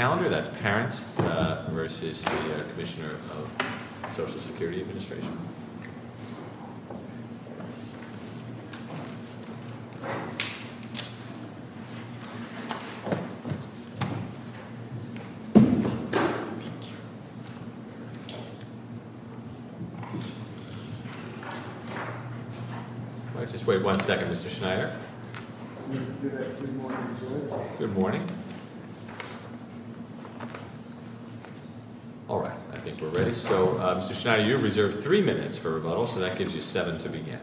calendar, that's Parents v. Commissioner of Social Security Administration. Just wait one second, Mr. Schneider. Mr. Schneider, you're reserved three minutes for rebuttal, so that gives you seven to begin.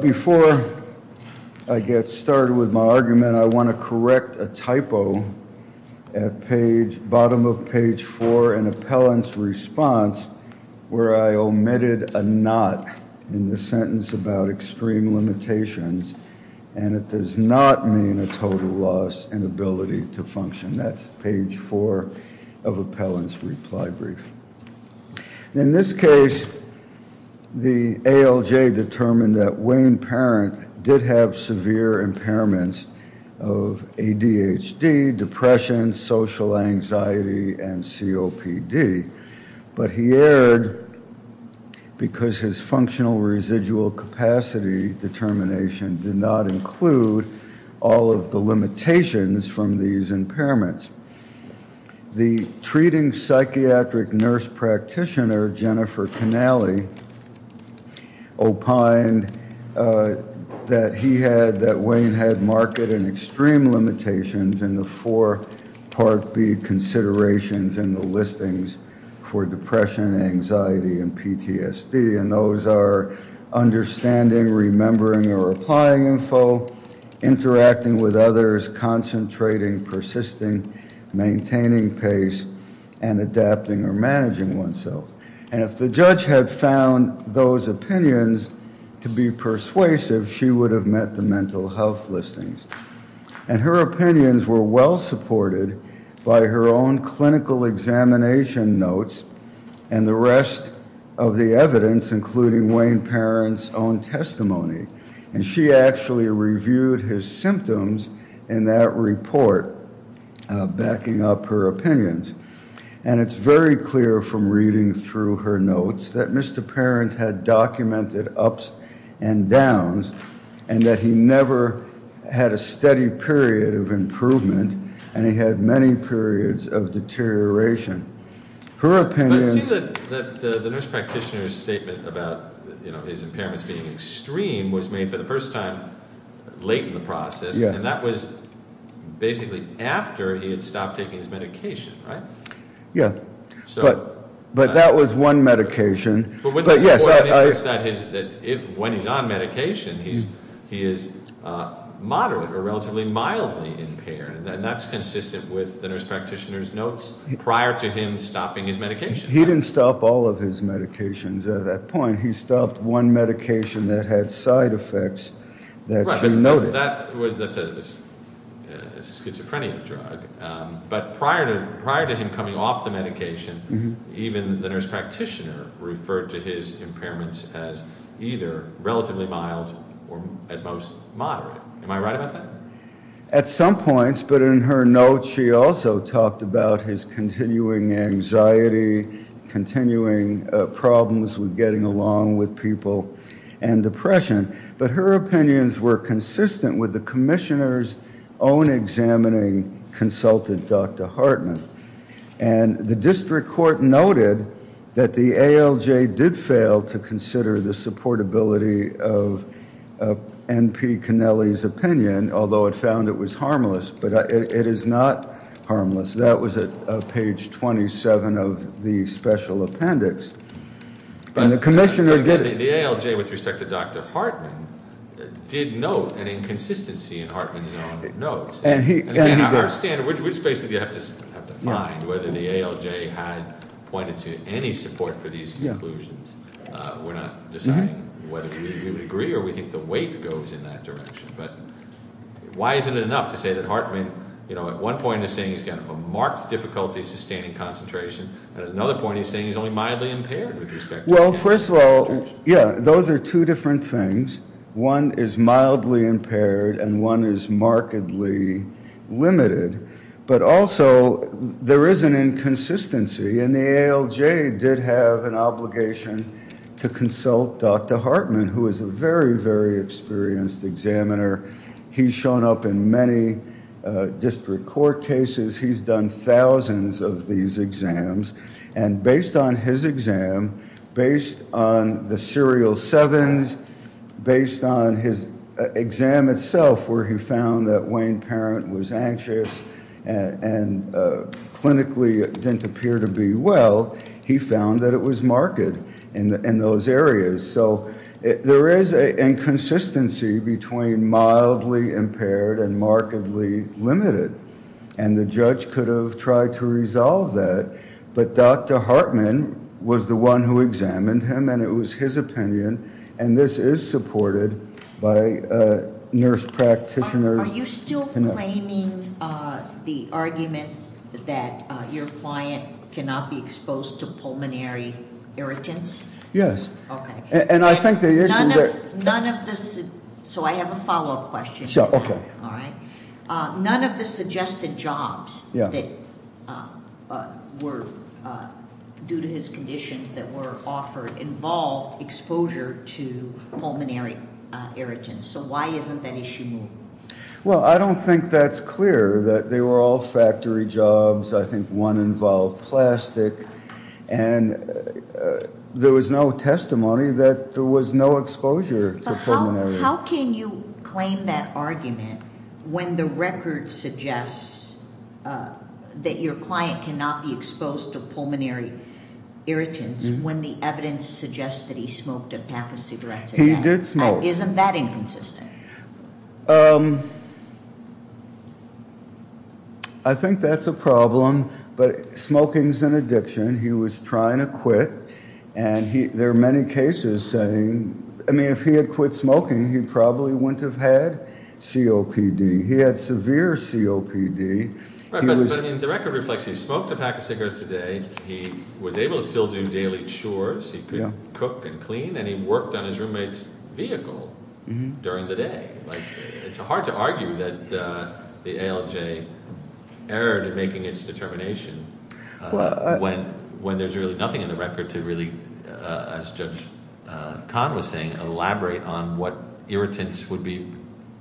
Before I get started with my argument, I want to correct a typo at bottom of page four in the sentence about extreme limitations, and it does not mean a total loss in ability to function. That's page four of Appellant's reply brief. In this case, the ALJ determined that Wayne Parent did have severe impairments of ADHD, depression, social anxiety, and COPD, but he erred because his functional residual capacity determination did not include all of the limitations from these impairments. The treating psychiatric nurse practitioner, Jennifer Canale, opined that he had, that Wayne had marked an extreme limitations in the four considerations in the listings for depression, anxiety, and PTSD, and those are understanding, remembering, or applying info, interacting with others, concentrating, persisting, maintaining pace, and adapting or managing oneself. And if the judge had found those opinions to be persuasive, she would have met the mental health listings. And her opinions were well supported by her own clinical examination notes and the rest of the evidence, including Wayne Parent's own testimony, and she actually reviewed his symptoms in that report, backing up her opinions. And it's very clear from reading through her notes that Mr. Parent had documented ups and downs, and that he never had a steady period of improvement, and he had many periods of deterioration. Her opinion... It seems that the nurse practitioner's statement about, you know, his impairments being extreme was made for the first time late in the process, and that was basically after he had stopped taking his medication, right? Yeah, but that was one medication. But when the report indicates that when he's on medication, he is moderate or relatively mildly impaired, and that's consistent with the nurse practitioner's notes prior to him stopping his medication. He didn't stop all of his medications at that point. He stopped one medication that had side effects that she noted. That's a schizophrenia drug, but prior to him coming off the medication, even the nurse practitioner referred to his impairments as either relatively mild or at most moderate. Am I right about that? At some points, but in her notes, she also talked about his continuing anxiety, continuing problems with getting along with people and depression, but her opinions were consistent with the commissioner's own examining consultant, Dr. Hartman, and the district court noted that the ALJ did fail to consider the supportability of N.P. Connelly's opinion, although it found it was harmless, but it is not harmless. That was at page 27 of the special appendix. But the ALJ, with respect to Dr. Hartman, did note an inconsistency in Hartman's own notes. And again, I understand. We just basically have to find whether the ALJ had pointed to any support for these conclusions. We're not deciding whether we would agree or we think the weight goes in that direction, but why isn't it enough to say that Hartman, you know, at one point is saying he's got a marked difficulty sustaining concentration, and at another point he's saying he's only mildly impaired with respect to his concentration? Well, first of all, yeah, those are two different things. One is mildly impaired and one is markedly limited, but also there is an inconsistency, and the ALJ did have an obligation to consult Dr. Hartman. He's a very experienced examiner. He's shown up in many district court cases. He's done thousands of these exams, and based on his exam, based on the serial sevens, based on his exam itself, where he found that Wayne Parent was anxious and clinically didn't appear to be well, he found that it was marked in those areas. So there is a inconsistency between mildly impaired and markedly limited, and the judge could have tried to resolve that, but Dr. Hartman was the one who examined him, and it was his opinion, and this is supported by nurse practitioners. Are you still claiming the argument that your client cannot be exposed to pulmonary irritants? Yes. Okay. And I think the issue that- None of this, so I have a follow-up question. Sure, okay. All right. None of the suggested jobs that were due to his conditions that were offered involved exposure to pulmonary irritants, so why isn't that issue moved? Well, I don't think that's clear, that they were all factory jobs. I think one involved plastic, and there was no testimony that there was no exposure to pulmonary- How can you claim that argument when the record suggests that your client cannot be exposed to pulmonary irritants when the evidence suggests that he smoked a pack of cigarettes? He did smoke. Isn't that inconsistent? I think that's a problem, but smoking's an addiction. He was trying to quit, and there are many cases saying- I mean, if he had quit smoking, he probably wouldn't have had COPD. He had severe COPD. Right, but I mean, the record reflects he smoked a pack of cigarettes a day, he was able to still do daily chores, he could cook and clean, and he worked on his roommate's vehicle during the day. It's hard to argue that the ALJ erred in making its determination when there's really nothing in the record to really, as Judge Kahn was saying, elaborate on what irritants would be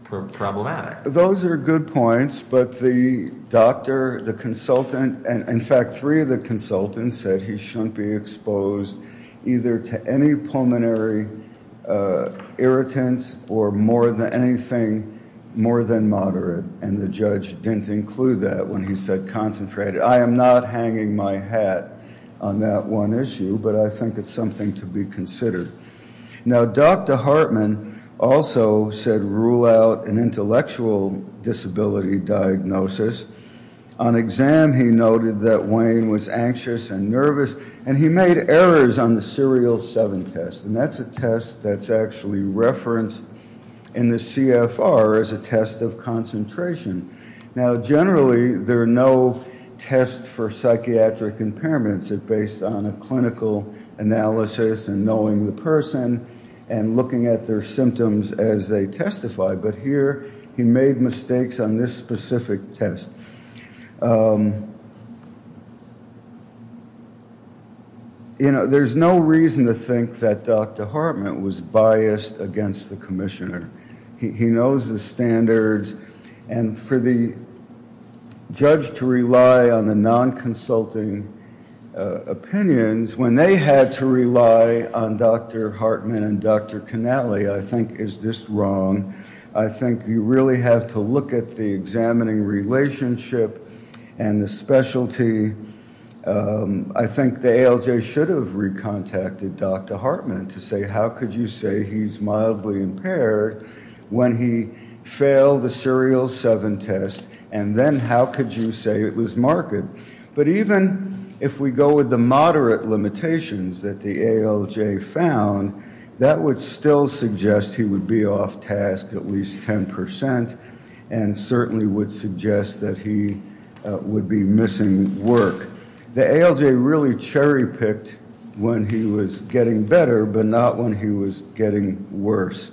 problematic. Those are good points, but the doctor, the consultant, and in fact three of the consultants said he shouldn't be exposed either to any pulmonary irritants or more than anything more than moderate, and the judge didn't include that when he said concentrated. I am not hanging my hat on that one issue, but I think it's something to be considered. Now, Dr. Hartman also said rule out an intellectual disability diagnosis. On exam, he noted that Wayne was anxious and nervous, and he made errors on the Serial 7 test, and that's a test that's actually referenced in the CFR as a test of concentration. Now, generally, there are no tests for psychiatric impairments. It's based on a clinical analysis and knowing the person and looking at their symptoms as they testify, but here he made mistakes on this specific test. There's no reason to think that Dr. Hartman was biased against the commissioner. He knows the standards, and for the judge to rely on the non-consulting opinions when they had to rely on Dr. Hartman and Dr. Canale, I think is just wrong. I think you really have to look at the examining relationship and the specialty. I think the ALJ should have recontacted Dr. Hartman to say, how could you say he's mildly impaired when he failed the Serial 7 test, and then how could you say it was marked? But even if we go with the moderate limitations that the ALJ found, that would still suggest he would be off task at least 10 percent, and certainly would suggest that he would be missing work. The ALJ really cherry picked when he was getting better, but not when he was getting worse.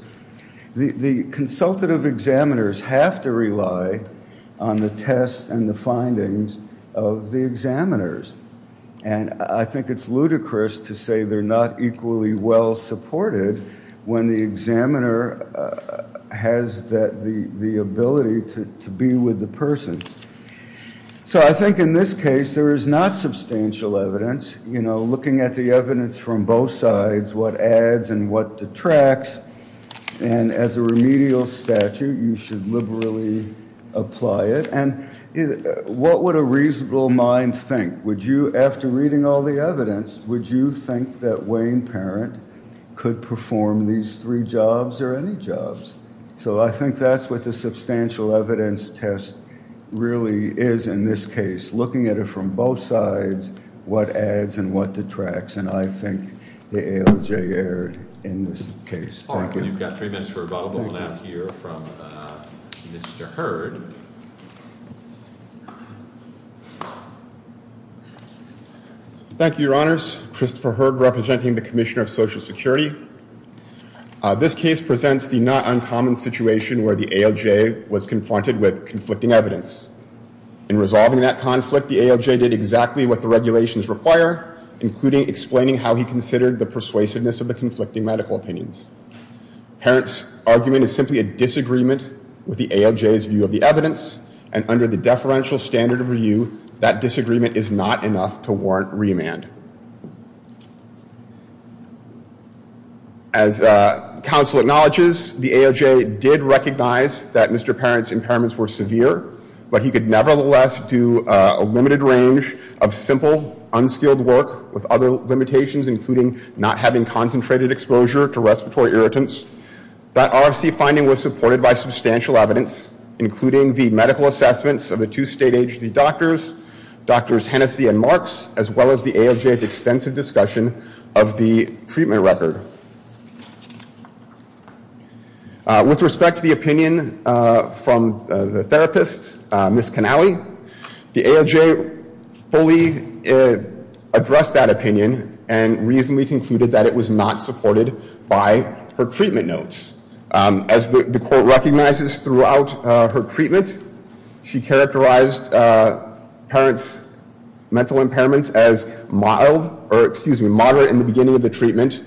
The consultative examiners have to rely on the tests and the findings of the examiners, and I think it's ludicrous to say they're not equally well supported when the examiner has the ability to be with the person. So I think in this case there is not substantial evidence. You know, looking at the evidence from both sides, what adds and what detracts, and as a remedial statute you should liberally apply it. And what would a reasonable mind think? Would you, after reading all the evidence, would you think that Wayne Parent could perform these three jobs or any jobs? So I think that's what the substantial evidence test really is in this case, looking at it from both sides, what adds and what detracts, and I think the ALJ erred in this case. Thank you. All right, we've got three minutes for rebuttal. We'll now hear from Mr. Hurd. Thank you, Your Honors. Christopher Hurd, representing the Commissioner of Social Security. This case presents the not uncommon situation where the ALJ was confronted with conflicting evidence. In resolving that conflict, the ALJ did exactly what the regulations require, including explaining how he considered the persuasiveness of the conflicting medical opinions. Parent's argument is simply a disagreement with the ALJ's view of the evidence, and under the deferential standard of review, that disagreement is not enough to warrant remand. As counsel acknowledges, the ALJ did recognize that Mr. Parent's impairments were severe, but he could nevertheless do a limited range of simple, unskilled work with other limitations, including not having concentrated exposure to respiratory irritants. That RFC finding was supported by substantial evidence, including the medical assessments of the two state agency doctors, Drs. Hennessey and Marks, as well as the ALJ's extensive discussion of the Ms. Canale. The ALJ fully addressed that opinion and reasonably concluded that it was not supported by her treatment notes. As the court recognizes throughout her treatment, she characterized parents' mental impairments as mild, or excuse me, moderate in the beginning of the treatment,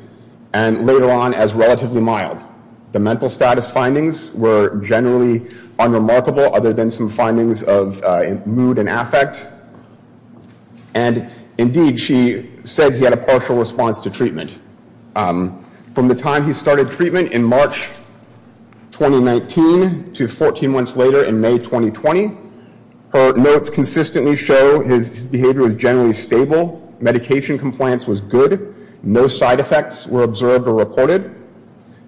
and later on as relatively mild. The mental status findings were generally unremarkable other than some findings of mood and affect, and indeed she said he had a partial response to treatment. From the time he started treatment in March 2019 to 14 months later in May 2020, her notes consistently show his behavior was generally stable, medication compliance was good, no side effects were observed or reported.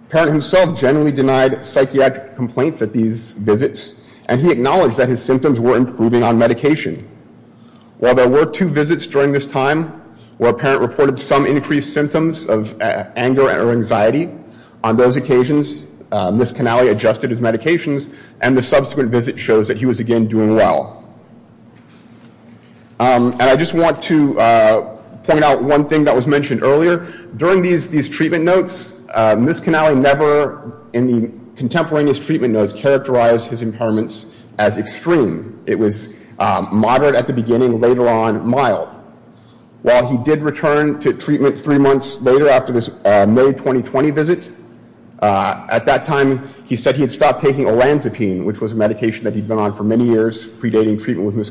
Parent himself generally denied psychiatric complaints at these visits, and he acknowledged that his symptoms were improving on medication. While there were two visits during this time where a parent reported some increased symptoms of anger or anxiety, on those occasions Ms. Canale adjusted his medications, and the subsequent visit shows that he was again doing well. And I just want to point out one thing that was mentioned earlier. During these treatment notes, Ms. Canale never in the contemporaneous treatment notes characterized his impairments as extreme. It was moderate at the beginning, later on mild. While he did return to treatment three months later after this May 2020 visit, at that time he said he had stopped taking olanzapine, which was a medication that he'd been on for many years predating treatment with Ms.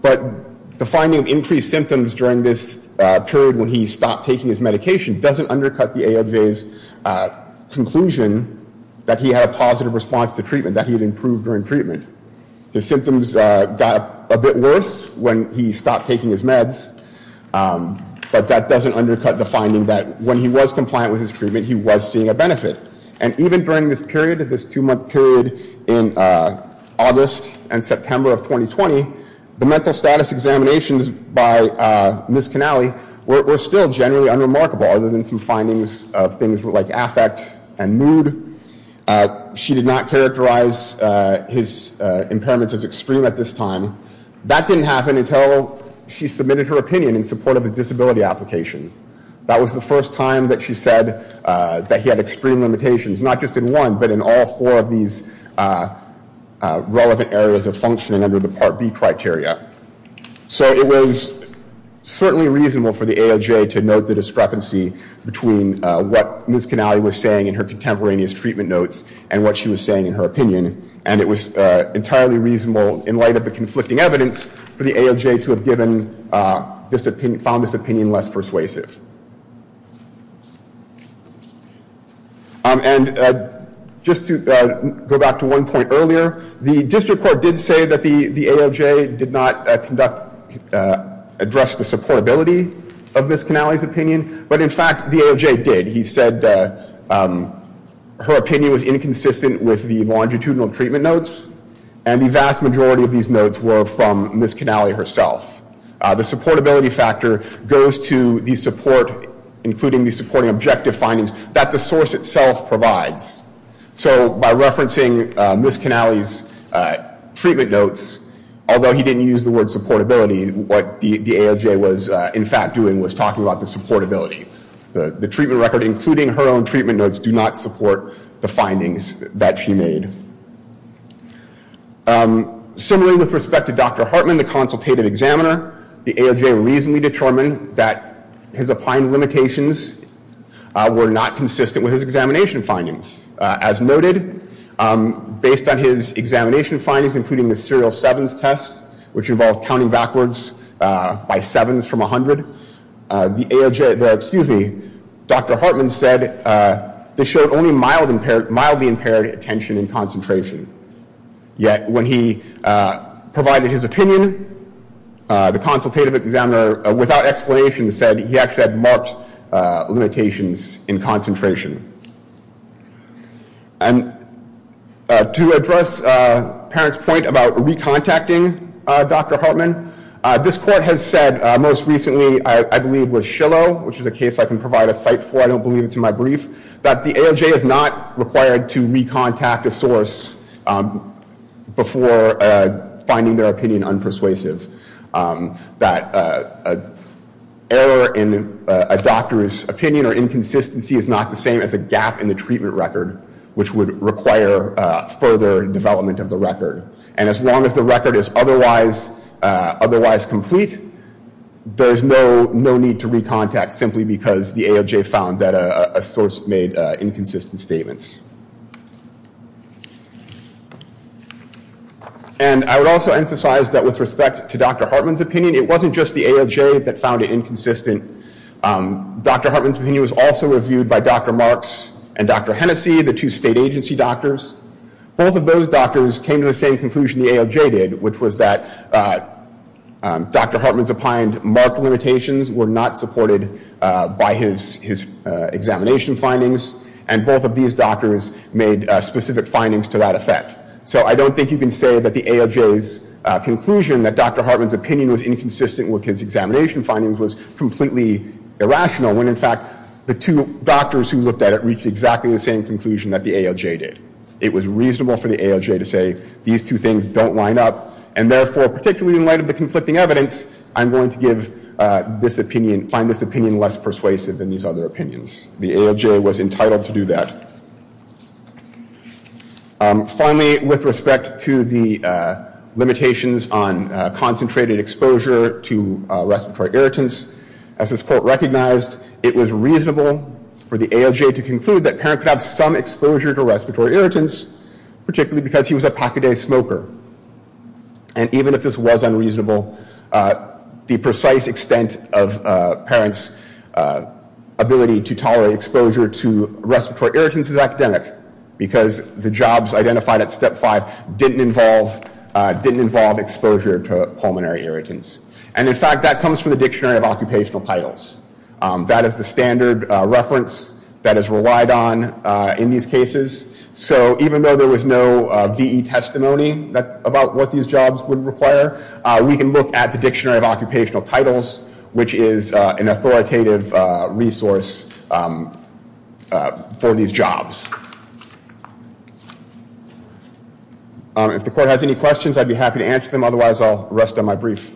But the finding of increased symptoms during this period when he stopped taking his medication doesn't undercut the AEDV's conclusion that he had a positive response to treatment, that he had improved during treatment. His symptoms got a bit worse when he stopped taking his meds, but that doesn't undercut the finding that when he was compliant with his treatment, he was seeing a benefit. And even during this period, this two-month period in August and the mental status examinations by Ms. Canale were still generally unremarkable other than some findings of things like affect and mood. She did not characterize his impairments as extreme at this time. That didn't happen until she submitted her opinion in support of a disability application. That was the first time that she said that he had extreme limitations, not just in one, but in all four of these relevant areas of function under the Part B criteria. So it was certainly reasonable for the AOJ to note the discrepancy between what Ms. Canale was saying in her contemporaneous treatment notes and what she was saying in her opinion, and it was entirely reasonable in light of the conflicting evidence for the AOJ to have given this opinion, found this opinion less persuasive. And just to go back to one point earlier, the district court did say that the AOJ did not conduct, address the supportability of Ms. Canale's opinion, but in fact the AOJ did. He said her opinion was inconsistent with the longitudinal treatment notes, and the vast majority of these notes were from Ms. Canale herself. The supportability factor goes to the support, including the supporting objective findings that the source itself provides. So by referencing Ms. Canale's treatment notes, although he didn't use the word supportability, what the AOJ was in fact doing was talking about the supportability. The treatment record, including her own treatment notes, do not support the findings that she made. Similarly, with respect to Dr. Hartman, the consultative examiner, the AOJ reasonably determined that his applied limitations were not consistent with his examination findings. As noted, based on his examination findings, including the serial sevens tests, which involved counting backwards by sevens from 100, the AOJ, excuse me, Dr. Hartman said this showed only mildly impaired attention and concentration. Yet when he provided his opinion, the consultative examiner, without explanation, said he actually had marked limitations in concentration. And to address parents' point about recontacting Dr. Hartman, this court has said most recently, I believe, with Shillow, which is a case I can provide a cite for, I don't believe it's in my brief, that the AOJ is not required to recontact a source before finding their opinion unpersuasive. That error in a doctor's opinion or inconsistency is not the same as a gap in the treatment record, which would require further development of the record. And as long as the record is otherwise complete, there's no need to recontact simply because the AOJ found that a source made inconsistent statements. And I would also emphasize that with respect to Dr. Hartman's opinion, it wasn't just the AOJ that found it inconsistent. Dr. Hartman's opinion was also reviewed by Dr. Marks and Dr. Hennessy, the two state agency doctors. Both of those Dr. Hartman's opined marked limitations were not supported by his examination findings, and both of these doctors made specific findings to that effect. So I don't think you can say that the AOJ's conclusion that Dr. Hartman's opinion was inconsistent with his examination findings was completely irrational, when in fact, the two doctors who looked at it reached exactly the same conclusion that the AOJ did. It was reasonable for the AOJ to say these two things don't line up, therefore, particularly in light of the conflicting evidence, I'm going to give this opinion, find this opinion less persuasive than these other opinions. The AOJ was entitled to do that. Finally, with respect to the limitations on concentrated exposure to respiratory irritants, as this court recognized, it was reasonable for the AOJ to conclude that Parent could have some exposure to respiratory irritants, particularly because he was a smoker. And even if this was unreasonable, the precise extent of Parent's ability to tolerate exposure to respiratory irritants is academic, because the jobs identified at Step 5 didn't involve exposure to pulmonary irritants. And in fact, that comes from the Dictionary of Occupational Titles. That is the standard reference that is relied on in these cases. So even though there was no V.E. testimony about what these jobs would require, we can look at the Dictionary of Occupational Titles, which is an authoritative resource for these jobs. If the court has any questions, I'd be happy to answer them. Otherwise, I'll rest on my brief.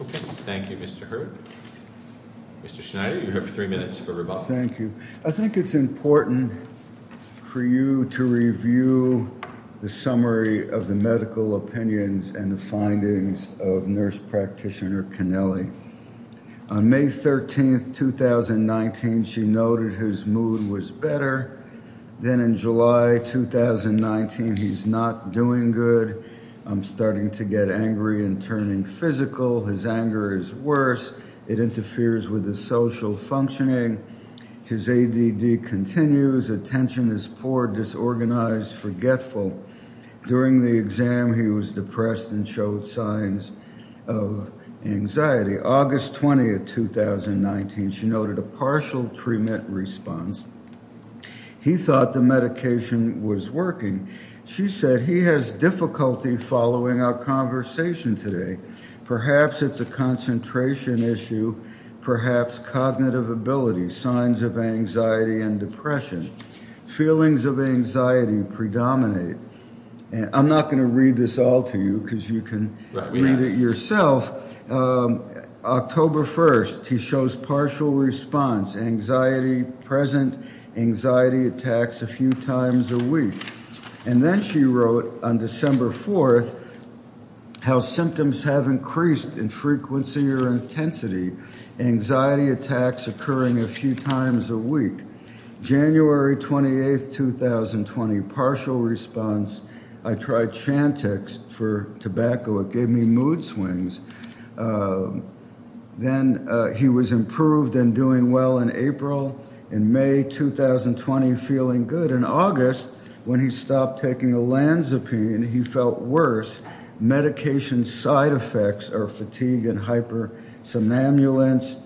Okay. Thank you, Mr. Hurd. Mr. Schneider, you have three minutes for rebuttal. Thank you. I think it's important for you to review the summary of the medical opinions and the findings of Nurse Practitioner Cannelli. On May 13, 2019, she noted his mood was better. Then in July 2019, he's not doing good. I'm starting to get angry and turning physical. His anger is worse. It interferes with his social functioning. His ADD continues. Attention is poor, disorganized, forgetful. During the exam, he was depressed and showed signs of anxiety. August 20, 2019, she noted a partial treatment response. He thought the medication was working. She said he has difficulty following our conversation today. Perhaps it's a concentration issue, perhaps cognitive ability, signs of anxiety and depression. Feelings of anxiety predominate. I'm not going to read this all to you because you can read it yourself. October 1st, he shows partial response, anxiety present, anxiety attacks a few times a week. And then she wrote on December 4th, how symptoms have increased in frequency or intensity, anxiety attacks occurring a few times a week. January 28, 2020, partial response. I tried Chantix for tobacco. It gave me mood swings. Then he was improved and doing well in April. In May 2020, feeling good. In August, when he stopped taking Olanzapine, he felt worse. Medication side effects are fatigue and hypersomnambulance,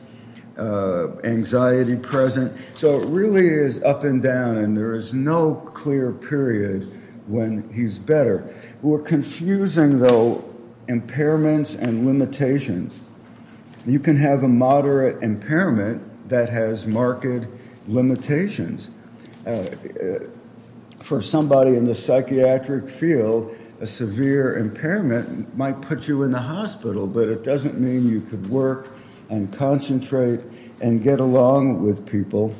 anxiety present. So it really is up and down, and there is no clear period when he's better. We're confusing, though, impairments and limitations. You can have a moderate impairment that has marked limitations. For somebody in the psychiatric field, a severe impairment might put you in the hospital, but it doesn't mean you could work and concentrate and get along with people.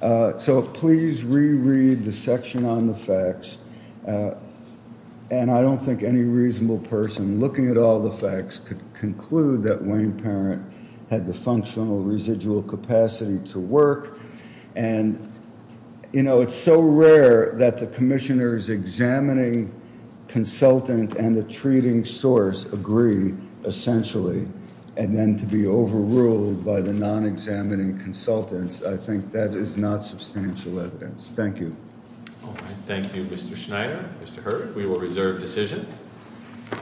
So please reread the section on the facts. And I don't think any reasonable person looking at all the facts could conclude that Wayne Parent had the functional residual capacity to work. And, you know, it's so rare that the commissioners examining consultant and the treating source agree, essentially, and then to be overruled by the non-examining consultants. I think that is not substantial evidence. Thank you. All right. Thank you, Mr. Schneider. Mr. Hurd, we will reserve decision.